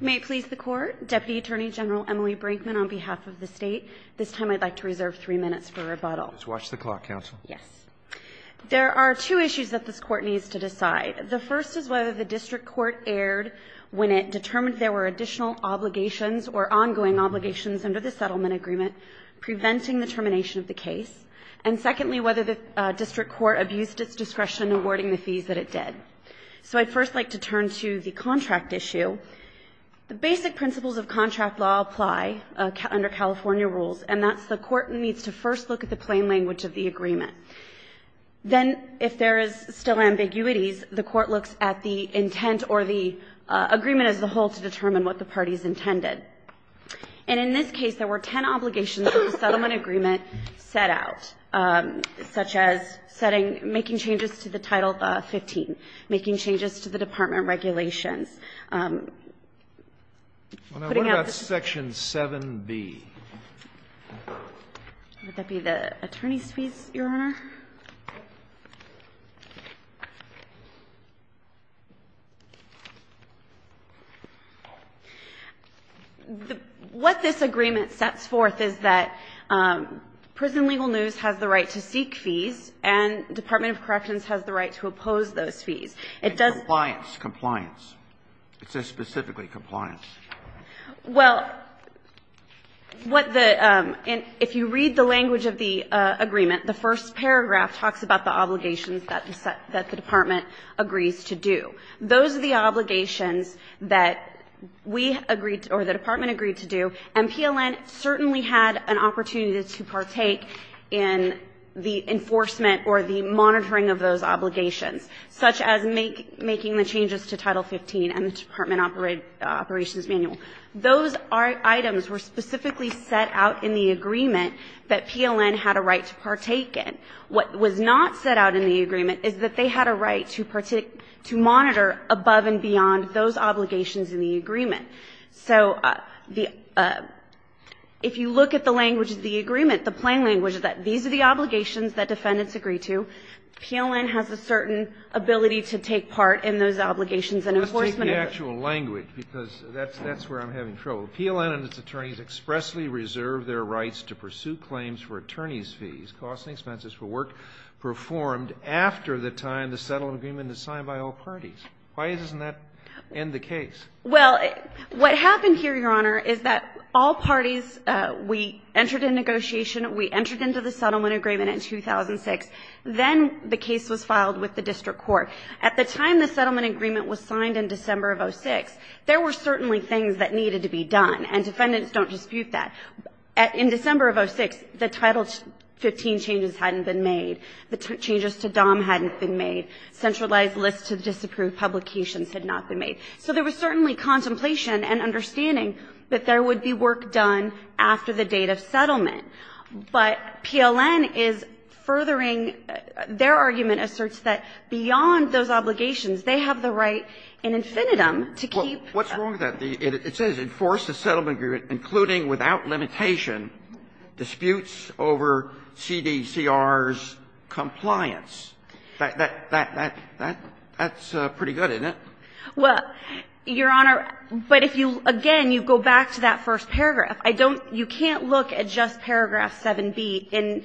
May it please the Court, Deputy Attorney General Emily Brinkman on behalf of the State. This time I'd like to reserve three minutes for rebuttal. Just watch the clock, Counsel. Yes. There are two issues that this Court needs to decide. The first is whether the District Court erred when it determined there were additional obligations or ongoing obligations under the settlement agreement preventing the termination of the case. And secondly, whether the District Court abused its discretion in awarding the fees that it did. So I'd first like to turn to the contract issue. The basic principles of contract law apply under California rules, and that's the Court needs to first look at the plain language of the agreement. Then, if there is still ambiguities, the Court looks at the intent or the agreement as a whole to determine what the parties intended. And in this case, there were ten obligations that the settlement agreement set out, such as making changes to the Title 15, making changes to the department regulations. What about Section 7B? Would that be the attorney's fees, Your Honor? What this agreement sets forth is that Prison Legal News has the right to seek fees, and Department of Corrections has the right to oppose those fees. And compliance. Compliance. It says specifically compliance. Well, what the – if you read the language of the agreement, the first paragraph talks about the obligations that the department agrees to do. Those are the obligations that we agreed – or the department agreed to do, and PLN certainly had an opportunity to partake in the enforcement or the monitoring of those obligations, such as making the changes to Title 15 and the department operations manual. Those items were specifically set out in the agreement that PLN had a right to partake in. What was not set out in the agreement is that they had a right to monitor above and beyond those obligations in the agreement. So the – if you look at the language of the agreement, the plain language is that these are the obligations that defendants agree to. PLN has a certain ability to take part in those obligations and enforcement. Well, let's take the actual language, because that's where I'm having trouble. PLN and its attorneys expressly reserve their rights to pursue claims for attorneys' fees, costs and expenses for work performed after the time the settlement agreement is signed by all parties. Why doesn't that end the case? Well, what happened here, Your Honor, is that all parties – we entered into negotiation, we entered into the settlement agreement in 2006. Then the case was filed with the district court. At the time the settlement agreement was signed in December of 06, there were certainly things that needed to be done, and defendants don't dispute that. In December of 06, the Title 15 changes hadn't been made. The changes to DOM hadn't been made. Centralized lists to disapprove publications had not been made. So there was certainly contemplation and understanding that there would be work done after the date of settlement. But PLN is furthering – their argument asserts that beyond those obligations, they have the right in infinitum to keep – What's wrong with that? It says enforce the settlement agreement, including without limitation, disputes over CDCR's compliance. That's pretty good, isn't it? Well, Your Honor, but if you – again, you go back to that first paragraph. I don't – you can't look at just paragraph 7b in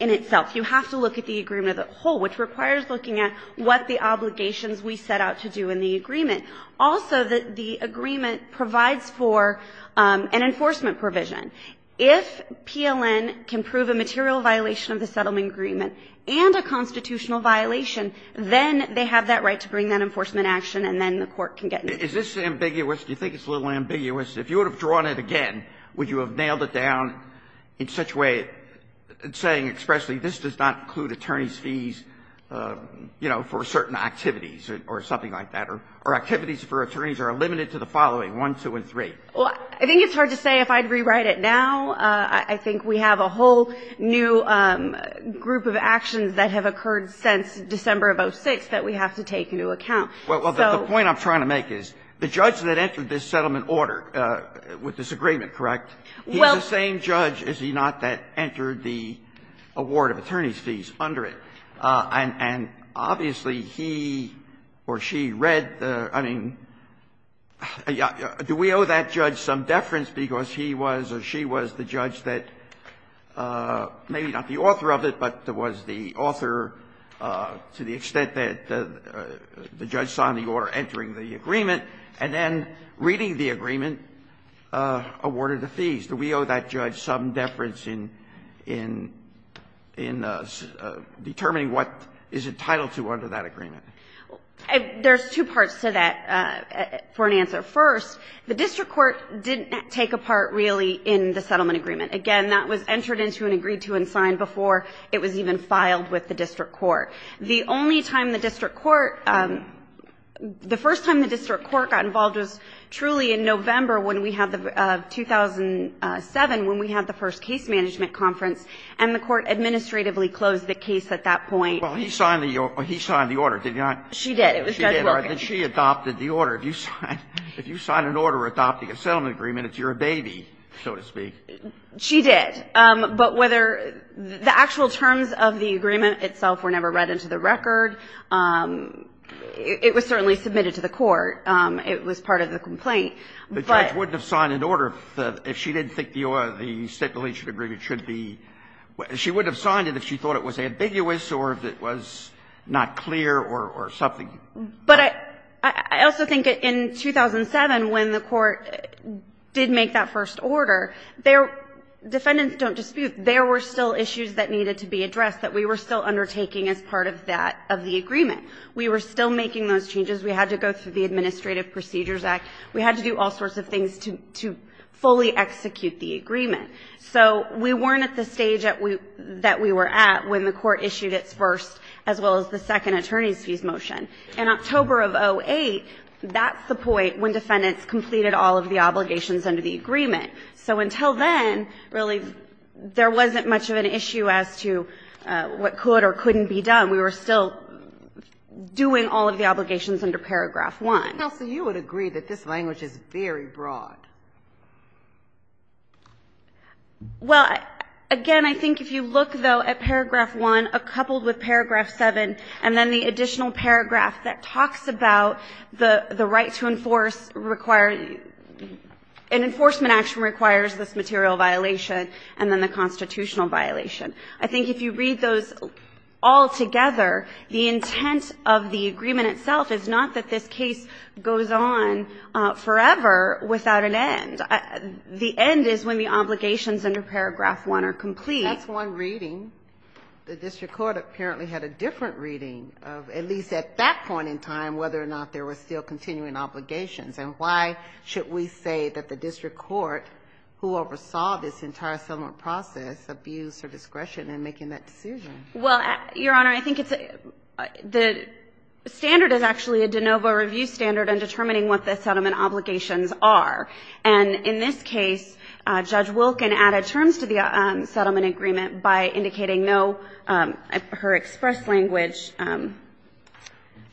itself. You have to look at the agreement as a whole, which requires looking at what the obligations we set out to do in the agreement. Also, the agreement provides for an enforcement provision. If PLN can prove a material violation of the settlement agreement and a constitutional violation, then they have that right to bring that enforcement action, and then the court can get in. Is this ambiguous? Do you think it's a little ambiguous? If you would have drawn it again, would you have nailed it down in such a way, saying expressly, this does not include attorney's fees, you know, for certain activities or something like that, or activities for attorneys are limited to the following, 1, 2, and 3? Well, I think it's hard to say if I'd rewrite it now. I think we have a whole new group of actions that have occurred since December of 2006 that we have to take into account. Well, the point I'm trying to make is the judge that entered this settlement order with this agreement, correct? He's the same judge, is he not, that entered the award of attorney's fees under it? And obviously, he or she read the – I mean, do we owe that judge some deference because he was or she was the judge that maybe not the author of it, but was the author to the extent that the judge signed the order entering the agreement, and then reading the agreement, awarded the fees. Do we owe that judge some deference in determining whether or not he or she read what is entitled to under that agreement? There's two parts to that for an answer. First, the district court didn't take a part really in the settlement agreement. Again, that was entered into and agreed to and signed before it was even filed with the district court. The only time the district court – the first time the district court got involved was truly in November when we had the – 2007 when we had the first case management conference, and the court administratively closed the case at that point. Well, he signed the order, did he not? She did. It was Judge Wilkins. She adopted the order. If you sign an order adopting a settlement agreement, it's your baby, so to speak. She did. But whether – the actual terms of the agreement itself were never read into the record. It was certainly submitted to the court. It was part of the complaint. The judge wouldn't have signed an order if she didn't think the stipulation agreement should be – she wouldn't have signed it if she thought it was ambiguous or if it was not clear or something. But I also think in 2007 when the court did make that first order, defendants don't dispute there were still issues that needed to be addressed that we were still undertaking as part of that – of the agreement. We were still making those changes. We had to go through the Administrative Procedures Act. We had to do all sorts of things to fully execute the agreement. So we weren't at the stage that we were at when the court issued its first as well as the second attorney's fees motion. In October of 2008, that's the point when defendants completed all of the obligations under the agreement. So until then, really, there wasn't much of an issue as to what could or couldn't be done. We were still doing all of the obligations under Paragraph 1. Counsel, you would agree that this language is very broad. Well, again, I think if you look, though, at Paragraph 1 coupled with Paragraph 7 and then the additional paragraph that talks about the right to enforce – an enforcement action requires this material violation and then the constitutional violation. I think if you read those all together, the intent of the agreement itself is not that this case goes on forever without an end. The end is when the obligations under Paragraph 1 are complete. That's one reading. The district court apparently had a different reading of, at least at that point in time, whether or not there were still continuing obligations. And why should we say that the district court, who oversaw this entire settlement process, abused her discretion in making that decision? Well, Your Honor, I think it's – the standard is actually a de novo review standard in determining what the settlement obligations are. And in this case, Judge Wilken added terms to the settlement agreement by indicating no – her express language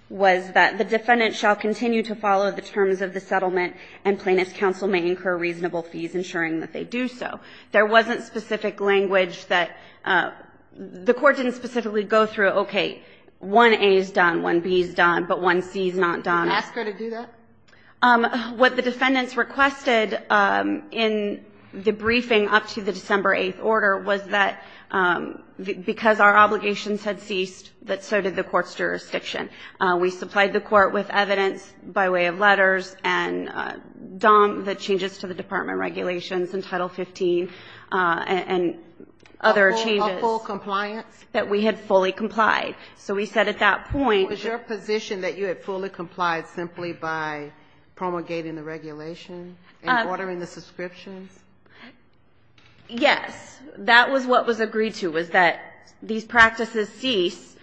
was that the defendant shall continue to follow the terms of the settlement and plaintiff's counsel may incur reasonable fees ensuring that they do so. There wasn't specific language that – the court didn't specifically go through, okay, 1A is done, 1B is done, but 1C is not done. Did you ask her to do that? What the defendants requested in the briefing up to the December 8th order was that because our obligations had ceased, that so did the court's jurisdiction. We supplied the court with evidence by way of letters and DOM, the changes to the Department of Regulations and Title 15 and other changes. A full compliance? That we had fully complied. So we said at that point – Was your position that you had fully complied simply by promulgating the regulation and ordering the subscriptions? Yes. That was what was agreed to, was that these practices cease –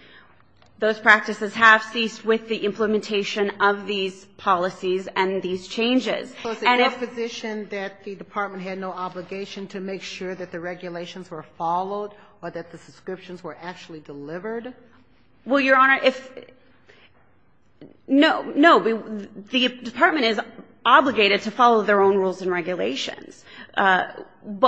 those practices have ceased with the implementation of these policies and these changes. Was it your position that the department had no obligation to make sure that the regulations were followed or that the subscriptions were actually delivered? Well, Your Honor, if – no. No. The department is obligated to follow their own rules and regulations. But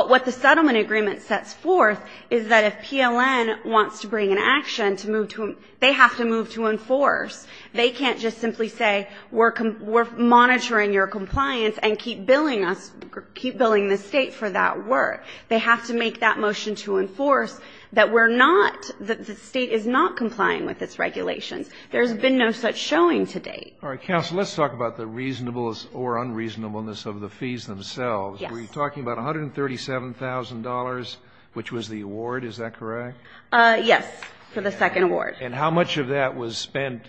what the settlement agreement sets forth is that if PLN wants to bring an action to move to – they have to move to enforce. They can't just simply say we're monitoring your compliance and keep billing us – keep billing the State for that work. They have to make that motion to enforce that we're not – that the State is not complying with its regulations. There's been no such showing to date. All right. Counsel, let's talk about the reasonableness or unreasonableness of the fees themselves. Yes. Were you talking about $137,000, which was the award, is that correct? Yes, for the second award. And how much of that was spent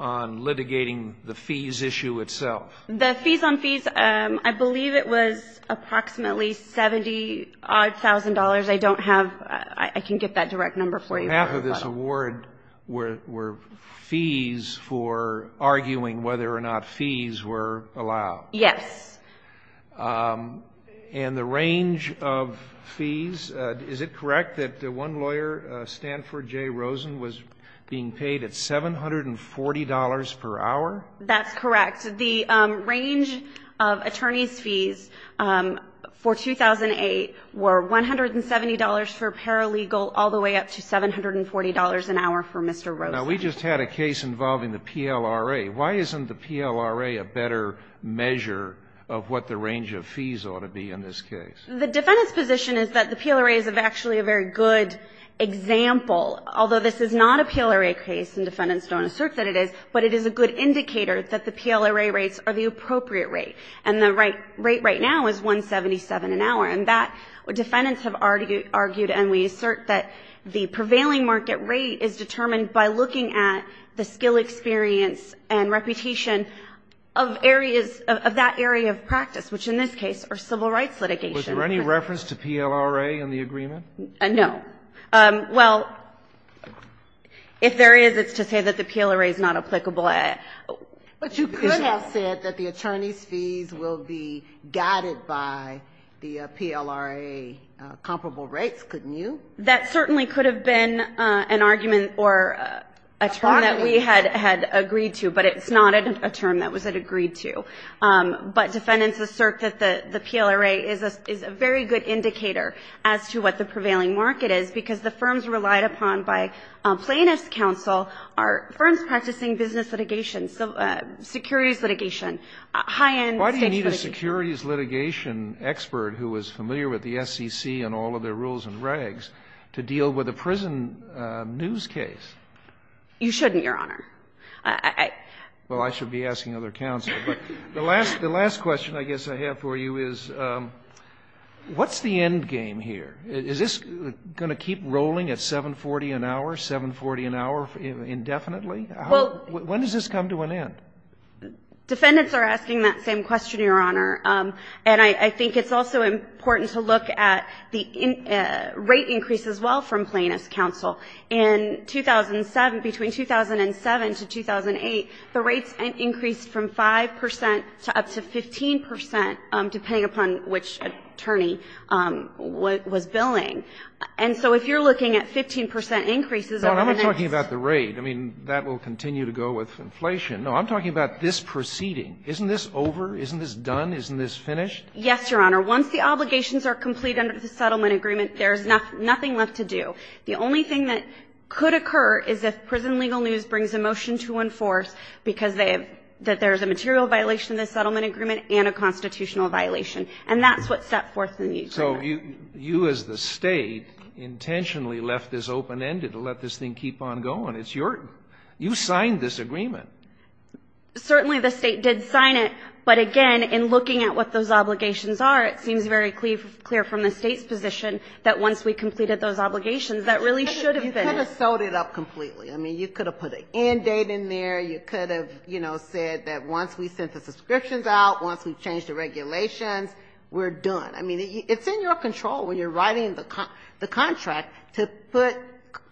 on litigating the fees issue itself? The fees on fees, I believe it was approximately $70-odd thousand. I don't have – I can get that direct number for you. So half of this award were fees for arguing whether or not fees were allowed. Yes. And the range of fees, is it correct that one lawyer, Stanford J. Rosen, was being paid at $740 per hour? That's correct. The range of attorney's fees for 2008 were $170 for paralegal all the way up to $740 an hour for Mr. Rosen. Now, we just had a case involving the PLRA. Why isn't the PLRA a better measure of what the range of fees ought to be in this case? The defendant's position is that the PLRA is actually a very good example, although this is not a PLRA case, and defendants don't assert that it is, but it is a good indicator that the PLRA rates are the appropriate rate. And the rate right now is $177 an hour. And that, defendants have argued and we assert that the prevailing market rate is determined by looking at the skill experience and reputation of areas, of that area of practice, which in this case are civil rights litigation. Was there any reference to PLRA in the agreement? No. Well, if there is, it's to say that the PLRA is not applicable. But you could have said that the attorney's fees will be guided by the PLRA comparable rates, couldn't you? That certainly could have been an argument or a term that we had agreed to, but it's not a term that was agreed to. But defendants assert that the PLRA is a very good indicator as to what the prevailing market is, because the firms relied upon by plaintiff's counsel are firms practicing business litigation, securities litigation, high-end state litigation. Why do you need a securities litigation expert who is familiar with the SEC and all of their rules and regs to deal with a prison news case? You shouldn't, Your Honor. Well, I should be asking other counsel. But the last question I guess I have for you is, what's the end game here? Is this going to keep rolling at 740 an hour, 740 an hour indefinitely? When does this come to an end? Defendants are asking that same question, Your Honor. And I think it's also important to look at the rate increase as well from plaintiff's counsel. In 2007, between 2007 to 2008, the rates increased from 5 percent up to 15 percent, depending upon which attorney was billing. And so if you're looking at 15 percent increases over the next year. No, I'm not talking about the rate. I mean, that will continue to go with inflation. No, I'm talking about this proceeding. Isn't this over? Isn't this done? Isn't this finished? Yes, Your Honor. Once the obligations are complete under the settlement agreement, there's nothing left to do. The only thing that could occur is if prison legal news brings a motion to enforce because they have, that there's a material violation of the settlement agreement and a constitutional violation. And that's what's set forth in the agreement. So you as the state intentionally left this open-ended to let this thing keep on going. It's your, you signed this agreement. Certainly the state did sign it. But again, in looking at what those obligations are, it seems very clear from the state's position that once we completed those obligations, that really should have been. You could have sold it up completely. I mean, you could have put an end date in there. You could have, you know, said that once we sent the subscriptions out, once we changed the regulations, we're done. I mean, it's in your control when you're writing the contract to put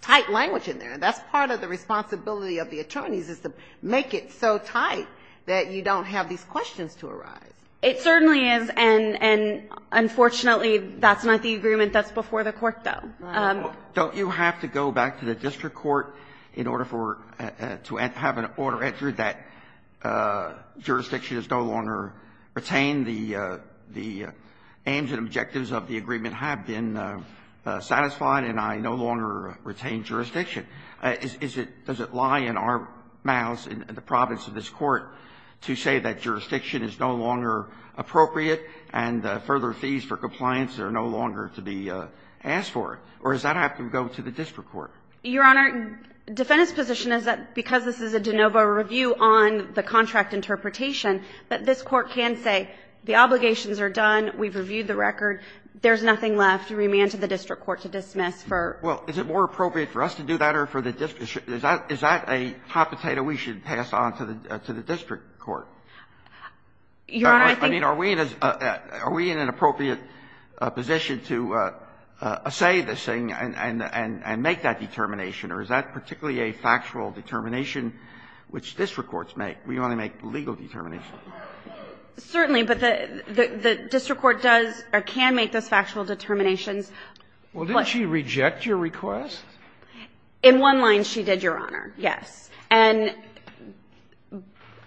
tight language in there. That's part of the responsibility of the attorneys is to make it so tight that you don't have these questions to arise. It certainly is. And unfortunately, that's not the agreement that's before the court, though. Don't you have to go back to the district court in order for, to have an order entered that jurisdiction is no longer retained? The aims and objectives of the agreement have been satisfied and I no longer retain jurisdiction. Is it, does it lie in our mouths in the province of this Court to say that jurisdiction is no longer appropriate and further fees for compliance are no longer to be asked for? Or does that have to go to the district court? Your Honor, defendant's position is that because this is a de novo review on the contract interpretation, that this Court can say the obligations are done, we've reviewed the record, there's nothing left to remand to the district court to dismiss for. Well, is it more appropriate for us to do that or for the district? Is that a hot potato we should pass on to the district court? Your Honor, I think. I mean, are we in an appropriate position to say this thing and make that determination? Or is that particularly a factual determination which district courts make? We only make legal determinations. Certainly. But the district court does or can make those factual determinations. Well, didn't she reject your request? In one line, she did, Your Honor. Yes. And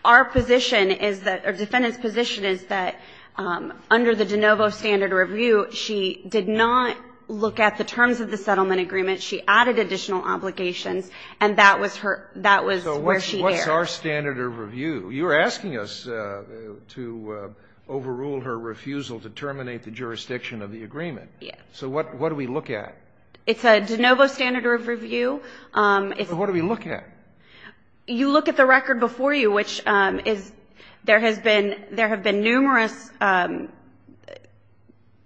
our position is that, or defendant's position is that under the de novo standard review, she did not look at the terms of the settlement agreement. She added additional obligations. And that was her, that was where she erred. So what's our standard of review? You're asking us to overrule her refusal to terminate the jurisdiction of the agreement. Yes. So what do we look at? It's a de novo standard of review. So what do we look at? You look at the record before you, which is, there have been numerous,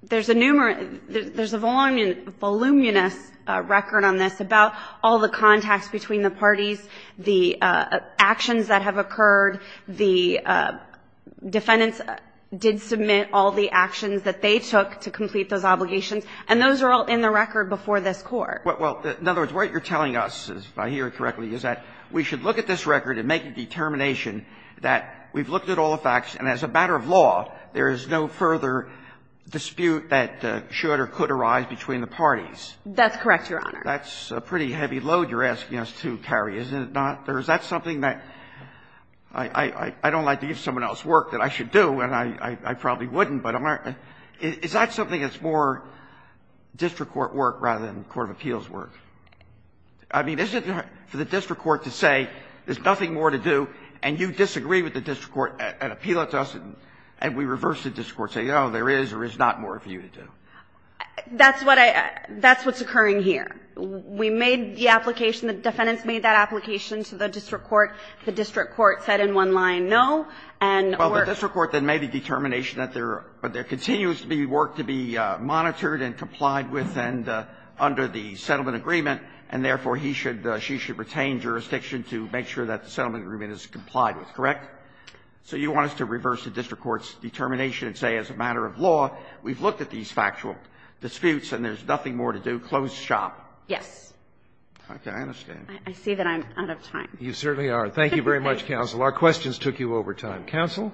there's a voluminous record on this about all the contacts between the parties, the actions that have occurred, the defendants did submit all the actions that they took to complete those obligations, and those are all in the record before this Court. Well, in other words, what you're telling us, if I hear it correctly, is that we should look at this record and make a determination that we've looked at all the facts, and as a matter of law, there is no further dispute that should or could arise between the parties. That's correct, Your Honor. That's a pretty heavy load you're asking us to carry, isn't it not? Or is that something that I don't like to give someone else work that I should do, and I probably wouldn't, but I'm not going to. Is that something that's more district court work rather than court of appeals work? I mean, is it for the district court to say there's nothing more to do, and you disagree with the district court and appeal it to us, and we reverse the district court, saying, oh, there is or is not more for you to do? That's what I – that's what's occurring here. We made the application. The defendants made that application to the district court. The district court said in one line, no, and we're – Well, the district court then made a determination that there – but there continues to be work to be monitored and complied with and under the settlement agreement, and therefore, he should – she should retain jurisdiction to make sure that the settlement agreement is complied with, correct? So you want us to reverse the district court's determination and say, as a matter of law, we've looked at these factual disputes and there's nothing more to do. So you want us to close shop? Yes. Okay. I understand. I see that I'm out of time. You certainly are. Thank you very much, counsel. Our questions took you over time. Counsel?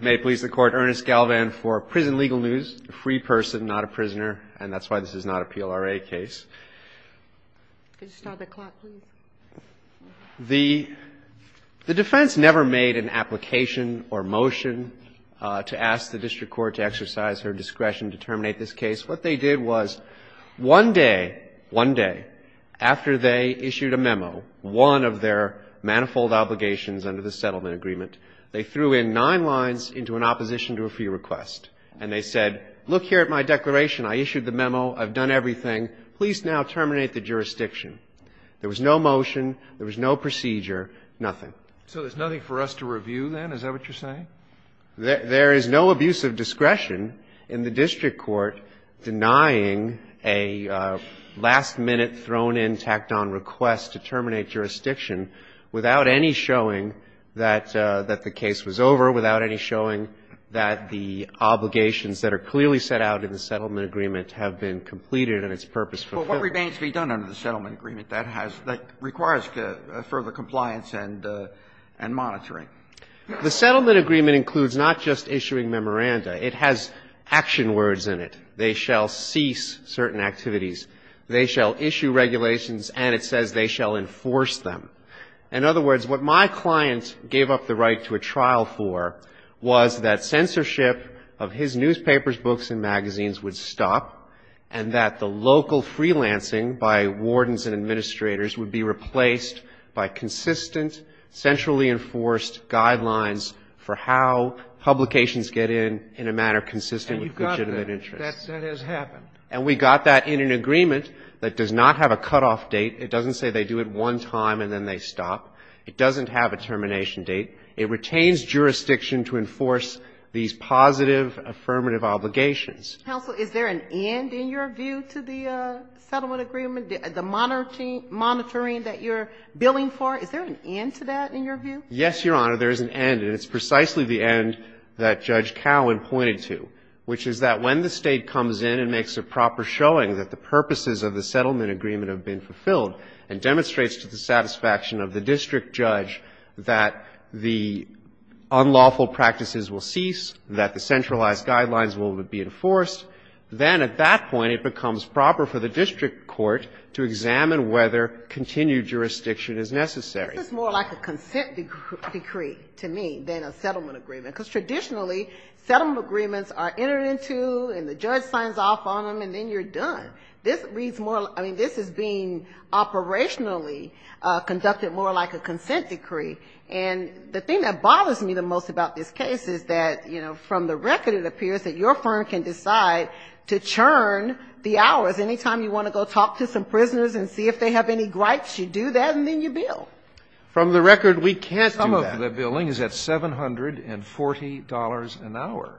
May it please the Court, Ernest Galvan for prison legal news. A free person, not a prisoner, and that's why this is not a PLRA case. Could you start the clock, please? The defense never made an application or motion to ask the district court to exercise her discretion to terminate this case. What they did was one day, one day, after they issued a memo, one of their manifold obligations under the settlement agreement, they threw in nine lines into an opposition to a free request. And they said, look here at my declaration. I issued the memo. I've done everything. Please now terminate the jurisdiction. There was no motion. There was no procedure. Nothing. So there's nothing for us to review then? Is that what you're saying? There is no abuse of discretion in the district court denying a last-minute thrown-in, tacked-on request to terminate jurisdiction without any showing that the case was over, without any showing that the obligations that are clearly set out in the settlement agreement have been completed and its purpose fulfilled. But what remains to be done under the settlement agreement that has, that requires further compliance and monitoring? The settlement agreement includes not just issuing memoranda. It has action words in it. They shall cease certain activities. They shall issue regulations. And it says they shall enforce them. In other words, what my client gave up the right to a trial for was that censorship of his newspapers, books, and magazines would stop and that the local freelancing by wardens and administrators would be replaced by consistent, centrally enforced guidelines for how publications get in in a manner consistent with legitimate interests. And you've got that. That has happened. And we got that in an agreement that does not have a cutoff date. It doesn't say they do it one time and then they stop. It doesn't have a termination date. It retains jurisdiction to enforce these positive affirmative obligations. Counsel, is there an end in your view to the settlement agreement, the monitoring that you're billing for? Is there an end to that in your view? Yes, Your Honor. There is an end. And it's precisely the end that Judge Cowen pointed to, which is that when the State comes in and makes a proper showing that the purposes of the settlement agreement have been fulfilled and demonstrates to the satisfaction of the district judge that the unlawful practices will cease, that the centralized guidelines will be enforced, then at that point it becomes proper for the district court to examine whether continued jurisdiction is necessary. This is more like a consent decree to me than a settlement agreement, because traditionally settlement agreements are entered into and the judge signs off on them and then you're done. This is being operationally conducted more like a consent decree. And the thing that bothers me the most about this case is that, you know, from the record it appears that your firm can decide to churn the hours. Any time you want to go talk to some prisoners and see if they have any gripes, you do that and then you bill. From the record, we can't do that. Some of the billing is at $740 an hour.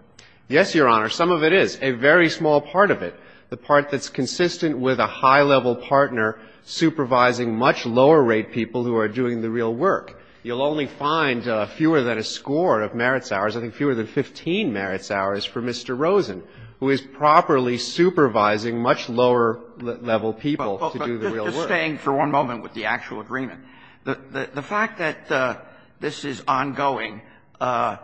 Yes, Your Honor. Some of it is. A very small part of it. The part that's consistent with a high-level partner supervising much lower-rate people who are doing the real work. You'll only find fewer than a score of merits hours, I think fewer than 15 merits hours for Mr. Rosen, who is properly supervising much lower-level people to do the real work. But just staying for one moment with the actual agreement. The fact that this is ongoing, the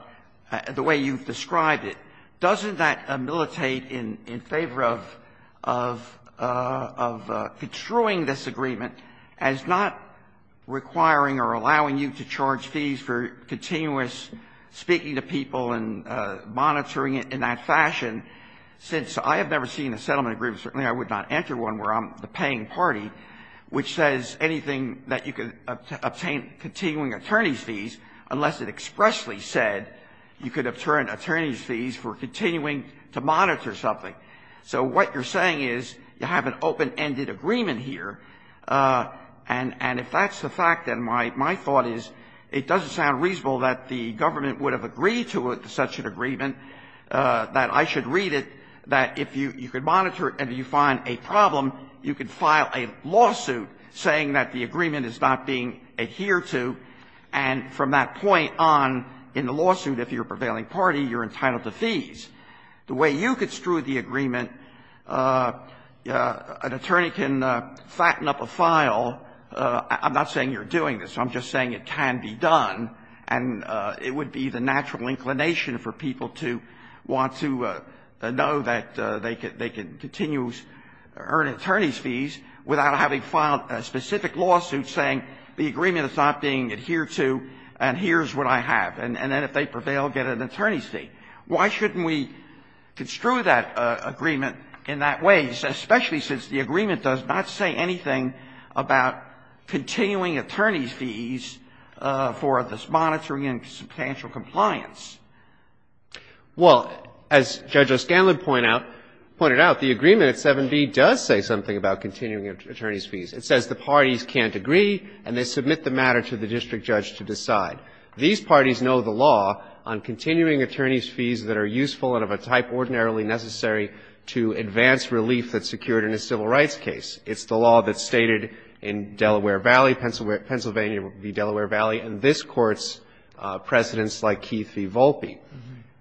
way you've described it, doesn't that ameliorate in favor of construing this agreement as not requiring or allowing you to charge fees for continuous speaking to people and monitoring it in that fashion? Since I have never seen a settlement agreement, certainly I would not enter one where I'm the paying party, which says anything that you can obtain continuing attorney's fees, unless it expressly said you could obtain attorney's fees for continuing to monitor something. So what you're saying is you have an open-ended agreement here. And if that's the fact, then my thought is it doesn't sound reasonable that the government would have agreed to such an agreement, that I should read it, that if you could monitor it and you find a problem, you could file a lawsuit saying that the agreement is not being adhered to. And from that point on in the lawsuit, if you're a prevailing party, you're entitled to fees. The way you construed the agreement, an attorney can flatten up a file. I'm not saying you're doing this. I'm just saying it can be done. And it would be the natural inclination for people to want to know that they could continue to earn attorney's fees without having filed a specific lawsuit saying the agreement is not being adhered to and here's what I have. And then if they prevail, get an attorney's fee. Why shouldn't we construe that agreement in that way, especially since the agreement does not say anything about continuing attorney's fees for this monitoring and substantial compliance? Well, as Judge O'Scanlan pointed out, the agreement at 7b does say something about continuing attorney's fees. It says the parties can't agree and they submit the matter to the district judge to decide. These parties know the law on continuing attorney's fees that are useful and of a type ordinarily necessary to advance relief that's secured in a civil rights case. It's the law that's stated in Delaware Valley, Pennsylvania v. Delaware Valley, and this Court's precedents like Keith v. Volpe.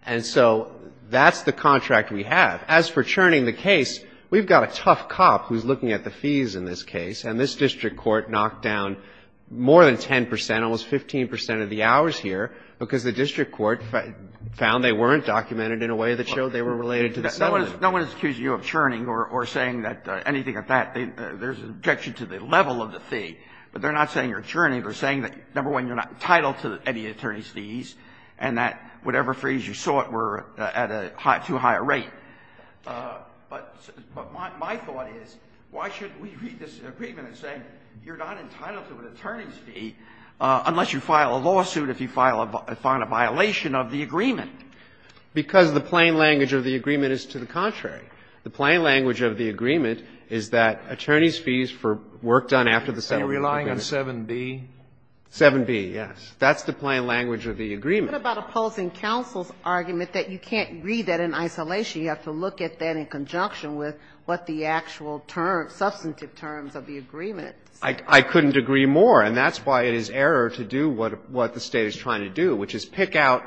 And so that's the contract we have. As for churning the case, we've got a tough cop who's looking at the fees in this case, and this district court knocked down more than 10 percent, almost 15 percent of the hours here, because the district court found they weren't documented in a way that showed they were related to the settlement. No one is accusing you of churning or saying anything like that. There's an objection to the level of the fee, but they're not saying you're churning. They're saying that, number one, you're not entitled to any attorney's fees and that whatever fees you sought were at a too high a rate. But my thought is, why shouldn't we read this agreement and say you're not entitled to an attorney's fee unless you file a lawsuit if you file a violation of the agreement? Because the plain language of the agreement is to the contrary. The plain language of the agreement is that attorney's fees for work done after the settlement. Are you relying on 7b? 7b, yes. That's the plain language of the agreement. But what about opposing counsel's argument that you can't read that in isolation? You have to look at that in conjunction with what the actual terms, substantive terms of the agreement say. I couldn't agree more. And that's why it is error to do what the State is trying to do, which is pick out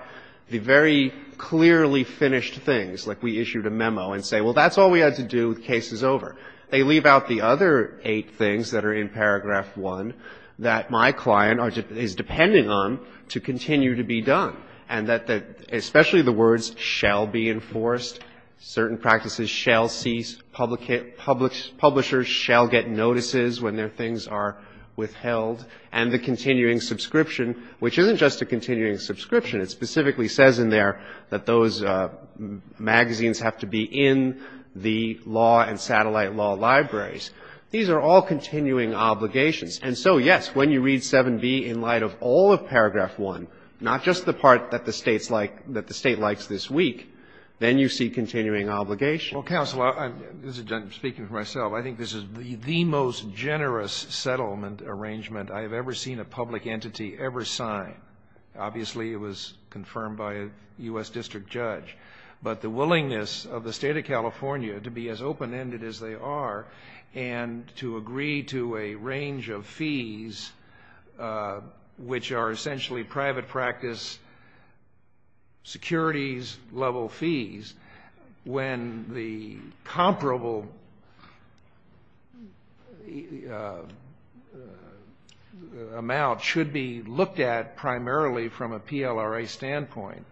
the very clearly finished things. Like we issued a memo and say, well, that's all we had to do. The case is over. They leave out the other eight things that are in paragraph 1 that my client is depending on to continue to be done, and that especially the words shall be enforced, certain practices shall cease, publishers shall get notices when their things are withheld, and the continuing subscription, which isn't just a continuing subscription. It specifically says in there that those magazines have to be in the law and satellite law libraries. These are all continuing obligations. And so, yes, when you read 7b in light of all of paragraph 1, not just the part that the State's like, that the State likes this week, then you see continuing obligations. Well, counsel, I'm speaking for myself. I think this is the most generous settlement arrangement I have ever seen a public entity ever sign. Obviously, it was confirmed by a U.S. district judge. But the willingness of the State of California to be as open-ended as they are and to agree to a range of fees, which are essentially private practice securities-level fees, when the comparable amount should be looked at primarily from a PLRA standpoint,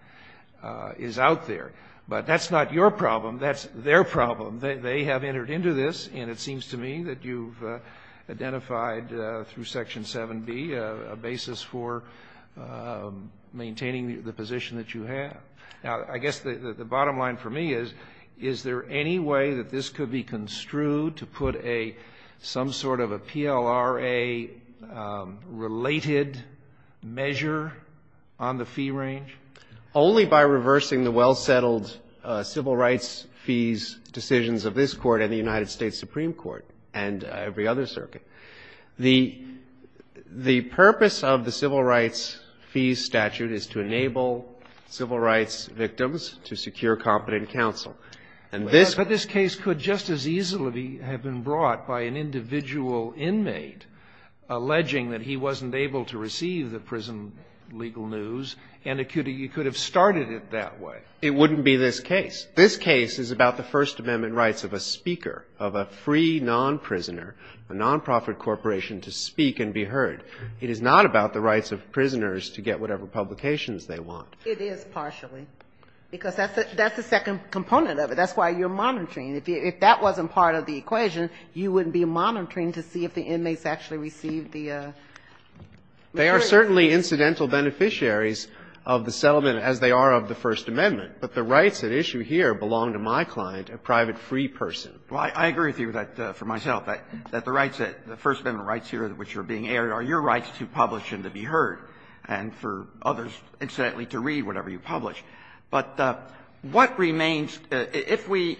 is out there. But that's not your problem. That's their problem. They have entered into this, and it seems to me that you've identified through section 7b a basis for maintaining the position that you have. Now, I guess the bottom line for me is, is there any way that this could be construed to put some sort of a PLRA-related measure on the fee range? Only by reversing the well-settled civil rights fees decisions of this Court and the United States Supreme Court and every other circuit. The purpose of the civil rights fees statute is to enable civil rights victims to secure competent counsel. And this case could just as easily have been brought by an individual inmate alleging that he wasn't able to receive the prison legal news, and it could have started it that way. It wouldn't be this case. This case is about the First Amendment rights of a speaker, of a free non-prisoner, a nonprofit corporation to speak and be heard. It is not about the rights of prisoners to get whatever publications they want. It is partially, because that's the second component of it. That's why you're monitoring. If that wasn't part of the equation, you wouldn't be monitoring to see if the inmates actually received the material. They are certainly incidental beneficiaries of the settlement, as they are of the First Amendment. But the rights at issue here belong to my client, a private free person. Well, I agree with you that, for myself, that the rights, the First Amendment rights here which are being aired are your rights to publish and to be heard, and for others, incidentally, to read whatever you publish. But what remains, if we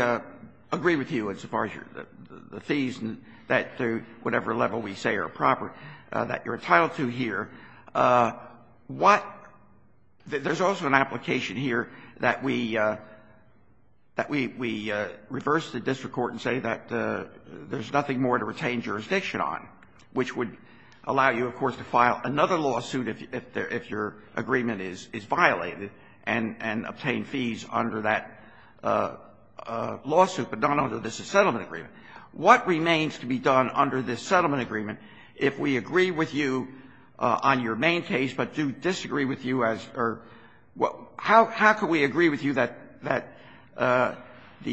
agree with you as far as the fees and that they're whatever level we say are proper, that you're entitled to here, what — there's also an application here that we — that we reverse the district court and say that there's nothing more to retain jurisdiction on, which would allow you, of course, to file another lawsuit if your agreement is violated and obtain fees under that lawsuit, but not under this settlement agreement. What remains to be done under this settlement agreement, if we agree with you on your main case, but do disagree with you as — or how can we agree with you that the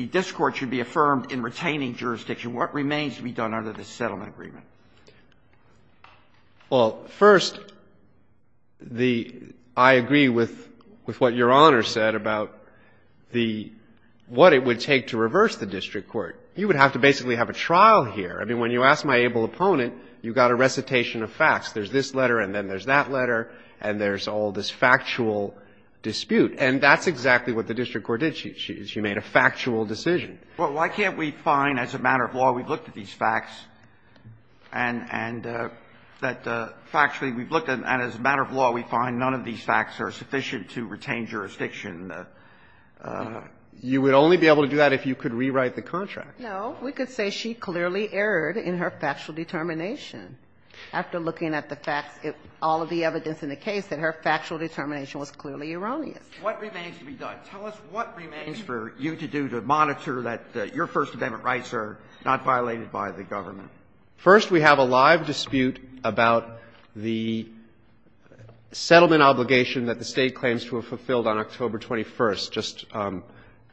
district court should be affirmed in retaining jurisdiction? What remains to be done under this settlement agreement? Well, first, the — I agree with what Your Honor said about the — what it would take to reverse the district court. You would have to basically have a trial here. I mean, when you asked my able opponent, you got a recitation of facts. There's this letter, and then there's that letter, and there's all this factual dispute. And that's exactly what the district court did. She — she made a factual decision. Well, why can't we find, as a matter of law, we've looked at these facts, and — and that factually we've looked at, and as a matter of law, we find none of these facts are sufficient to retain jurisdiction? You would only be able to do that if you could rewrite the contract. No. We could say she clearly erred in her factual determination after looking at the facts — all of the evidence in the case, that her factual determination was clearly erroneous. What remains to be done? Tell us what remains for you to do to monitor that your First Amendment rights are not violated by the government. First, we have a live dispute about the settlement obligation that the State claims to have fulfilled on October 21st, just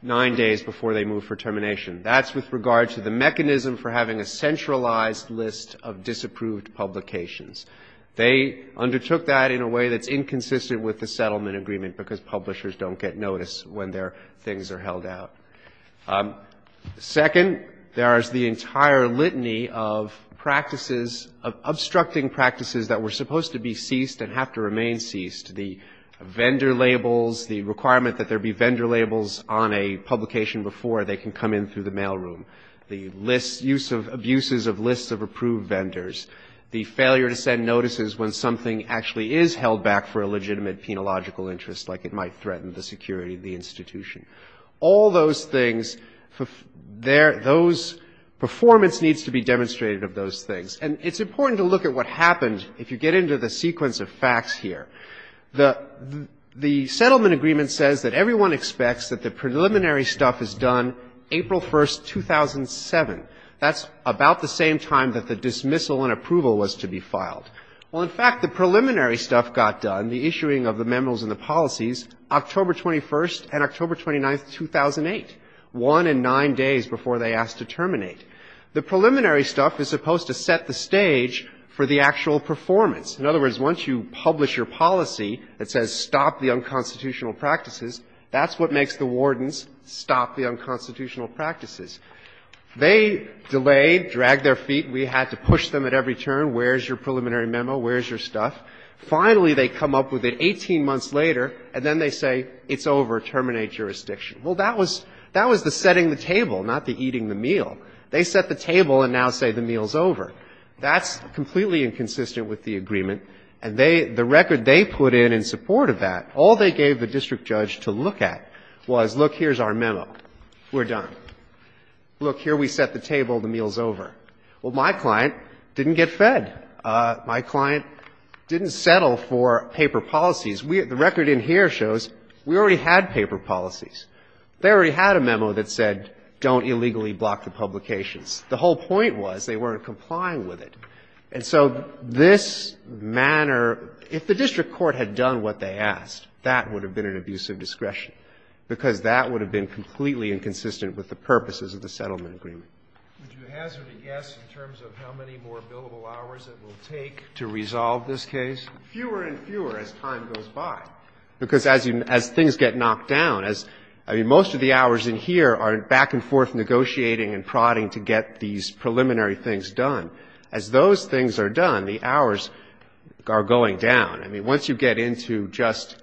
nine days before they moved for termination. That's with regard to the mechanism for having a centralized list of disapproved publications. They undertook that in a way that's inconsistent with the settlement agreement because publishers don't get notice when their things are held out. Second, there is the entire litany of practices — of obstructing practices that were the requirement that there be vendor labels on a publication before they can come in through the mailroom, the list — use of abuses of lists of approved vendors, the failure to send notices when something actually is held back for a legitimate penological interest, like it might threaten the security of the institution. All those things, those — performance needs to be demonstrated of those things. And it's important to look at what happens if you get into the sequence of facts here. The — the settlement agreement says that everyone expects that the preliminary stuff is done April 1st, 2007. That's about the same time that the dismissal and approval was to be filed. Well, in fact, the preliminary stuff got done, the issuing of the memos and the policies, October 21st and October 29th, 2008, one and nine days before they asked to terminate. The preliminary stuff is supposed to set the stage for the actual performance. In other words, once you publish your policy that says, stop the unconstitutional practices, that's what makes the wardens stop the unconstitutional practices. They delayed, dragged their feet. We had to push them at every turn. Where is your preliminary memo? Where is your stuff? Finally, they come up with it 18 months later, and then they say, it's over. Terminate jurisdiction. Well, that was — that was the setting the table, not the eating the meal. They set the table and now say the meal is over. That's completely inconsistent with the agreement. And they — the record they put in in support of that, all they gave the district judge to look at was, look, here's our memo. We're done. Look, here we set the table, the meal is over. Well, my client didn't get fed. My client didn't settle for paper policies. We — the record in here shows we already had paper policies. They already had a memo that said, don't illegally block the publications. The whole point was they weren't complying with it. And so this manner — if the district court had done what they asked, that would have been an abuse of discretion, because that would have been completely inconsistent with the purposes of the settlement agreement. Would you hazard a guess in terms of how many more billable hours it will take to resolve this case? Fewer and fewer as time goes by. Because as you — as things get knocked down, as — I mean, most of the hours in here are back and forth negotiating and prodding to get these preliminary things done. As those things are done, the hours are going down. I mean, once you get into just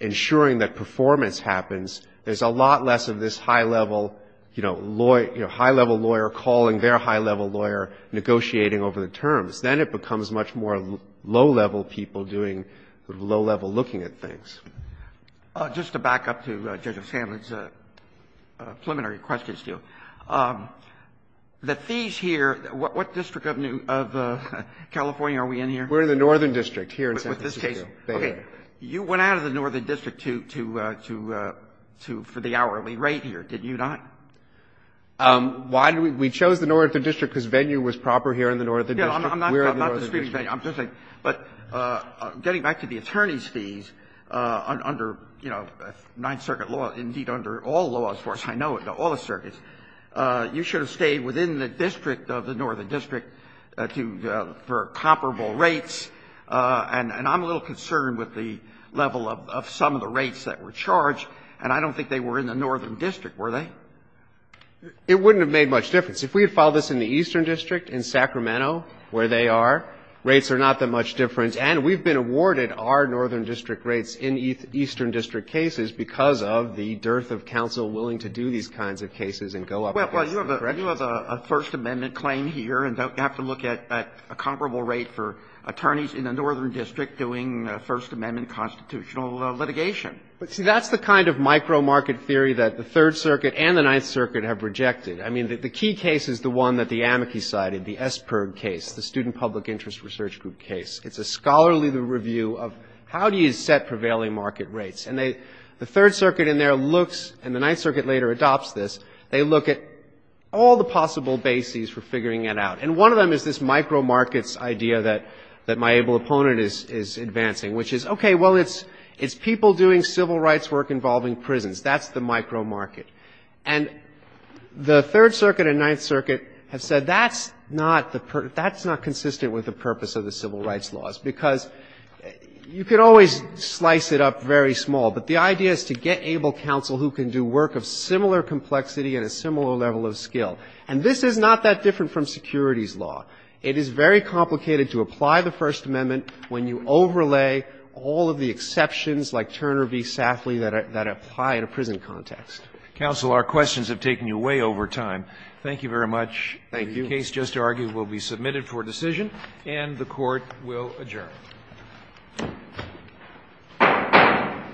ensuring that performance happens, there's a lot less of this high-level, you know, high-level lawyer calling their high-level lawyer negotiating over the terms. Then it becomes much more low-level people doing low-level looking at things. Just to back up to Judge O'Sandler's preliminary questions to you, the fees here — what district of California are we in here? We're in the Northern District here in San Francisco. Okay. You went out of the Northern District to — for the hourly rate here, did you not? Why did we — we chose the Northern District because venue was proper here in the Northern District. We're in the Northern District. But getting back to the attorney's fees under, you know, Ninth Circuit law, indeed under all laws, as far as I know, all the circuits, you should have stayed within the district of the Northern District to — for comparable rates. And I'm a little concerned with the level of some of the rates that were charged, and I don't think they were in the Northern District, were they? It wouldn't have made much difference. If we had filed this in the Eastern District in Sacramento, where they are, rates are not that much different. And we've been awarded our Northern District rates in Eastern District cases because of the dearth of counsel willing to do these kinds of cases and go up against them. Well, you have a First Amendment claim here, and don't have to look at a comparable rate for attorneys in the Northern District doing First Amendment constitutional litigation. See, that's the kind of micro-market theory that the Third Circuit and the Ninth Circuit have rejected. I mean, the key case is the one that the amici cited, the Esperg case, the Student Public Interest Research Group case. It's a scholarly review of how do you set prevailing market rates. And the Third Circuit in there looks — and the Ninth Circuit later adopts this — they look at all the possible bases for figuring it out. And one of them is this micro-markets idea that my able opponent is advancing, which is, okay, well, it's people doing civil rights work involving prisons. That's the micro-market. And the Third Circuit and Ninth Circuit have said that's not the — that's not consistent with the purpose of the civil rights laws, because you could always slice it up very small, but the idea is to get able counsel who can do work of similar complexity and a similar level of skill. And this is not that different from securities law. It is very complicated to apply the First Amendment when you overlay all of the exceptions like Turner v. Safley that apply in a prison context. Roberts. Counsel, our questions have taken you way over time. Thank you very much. Thank you. The case just argued will be submitted for decision, and the Court will adjourn.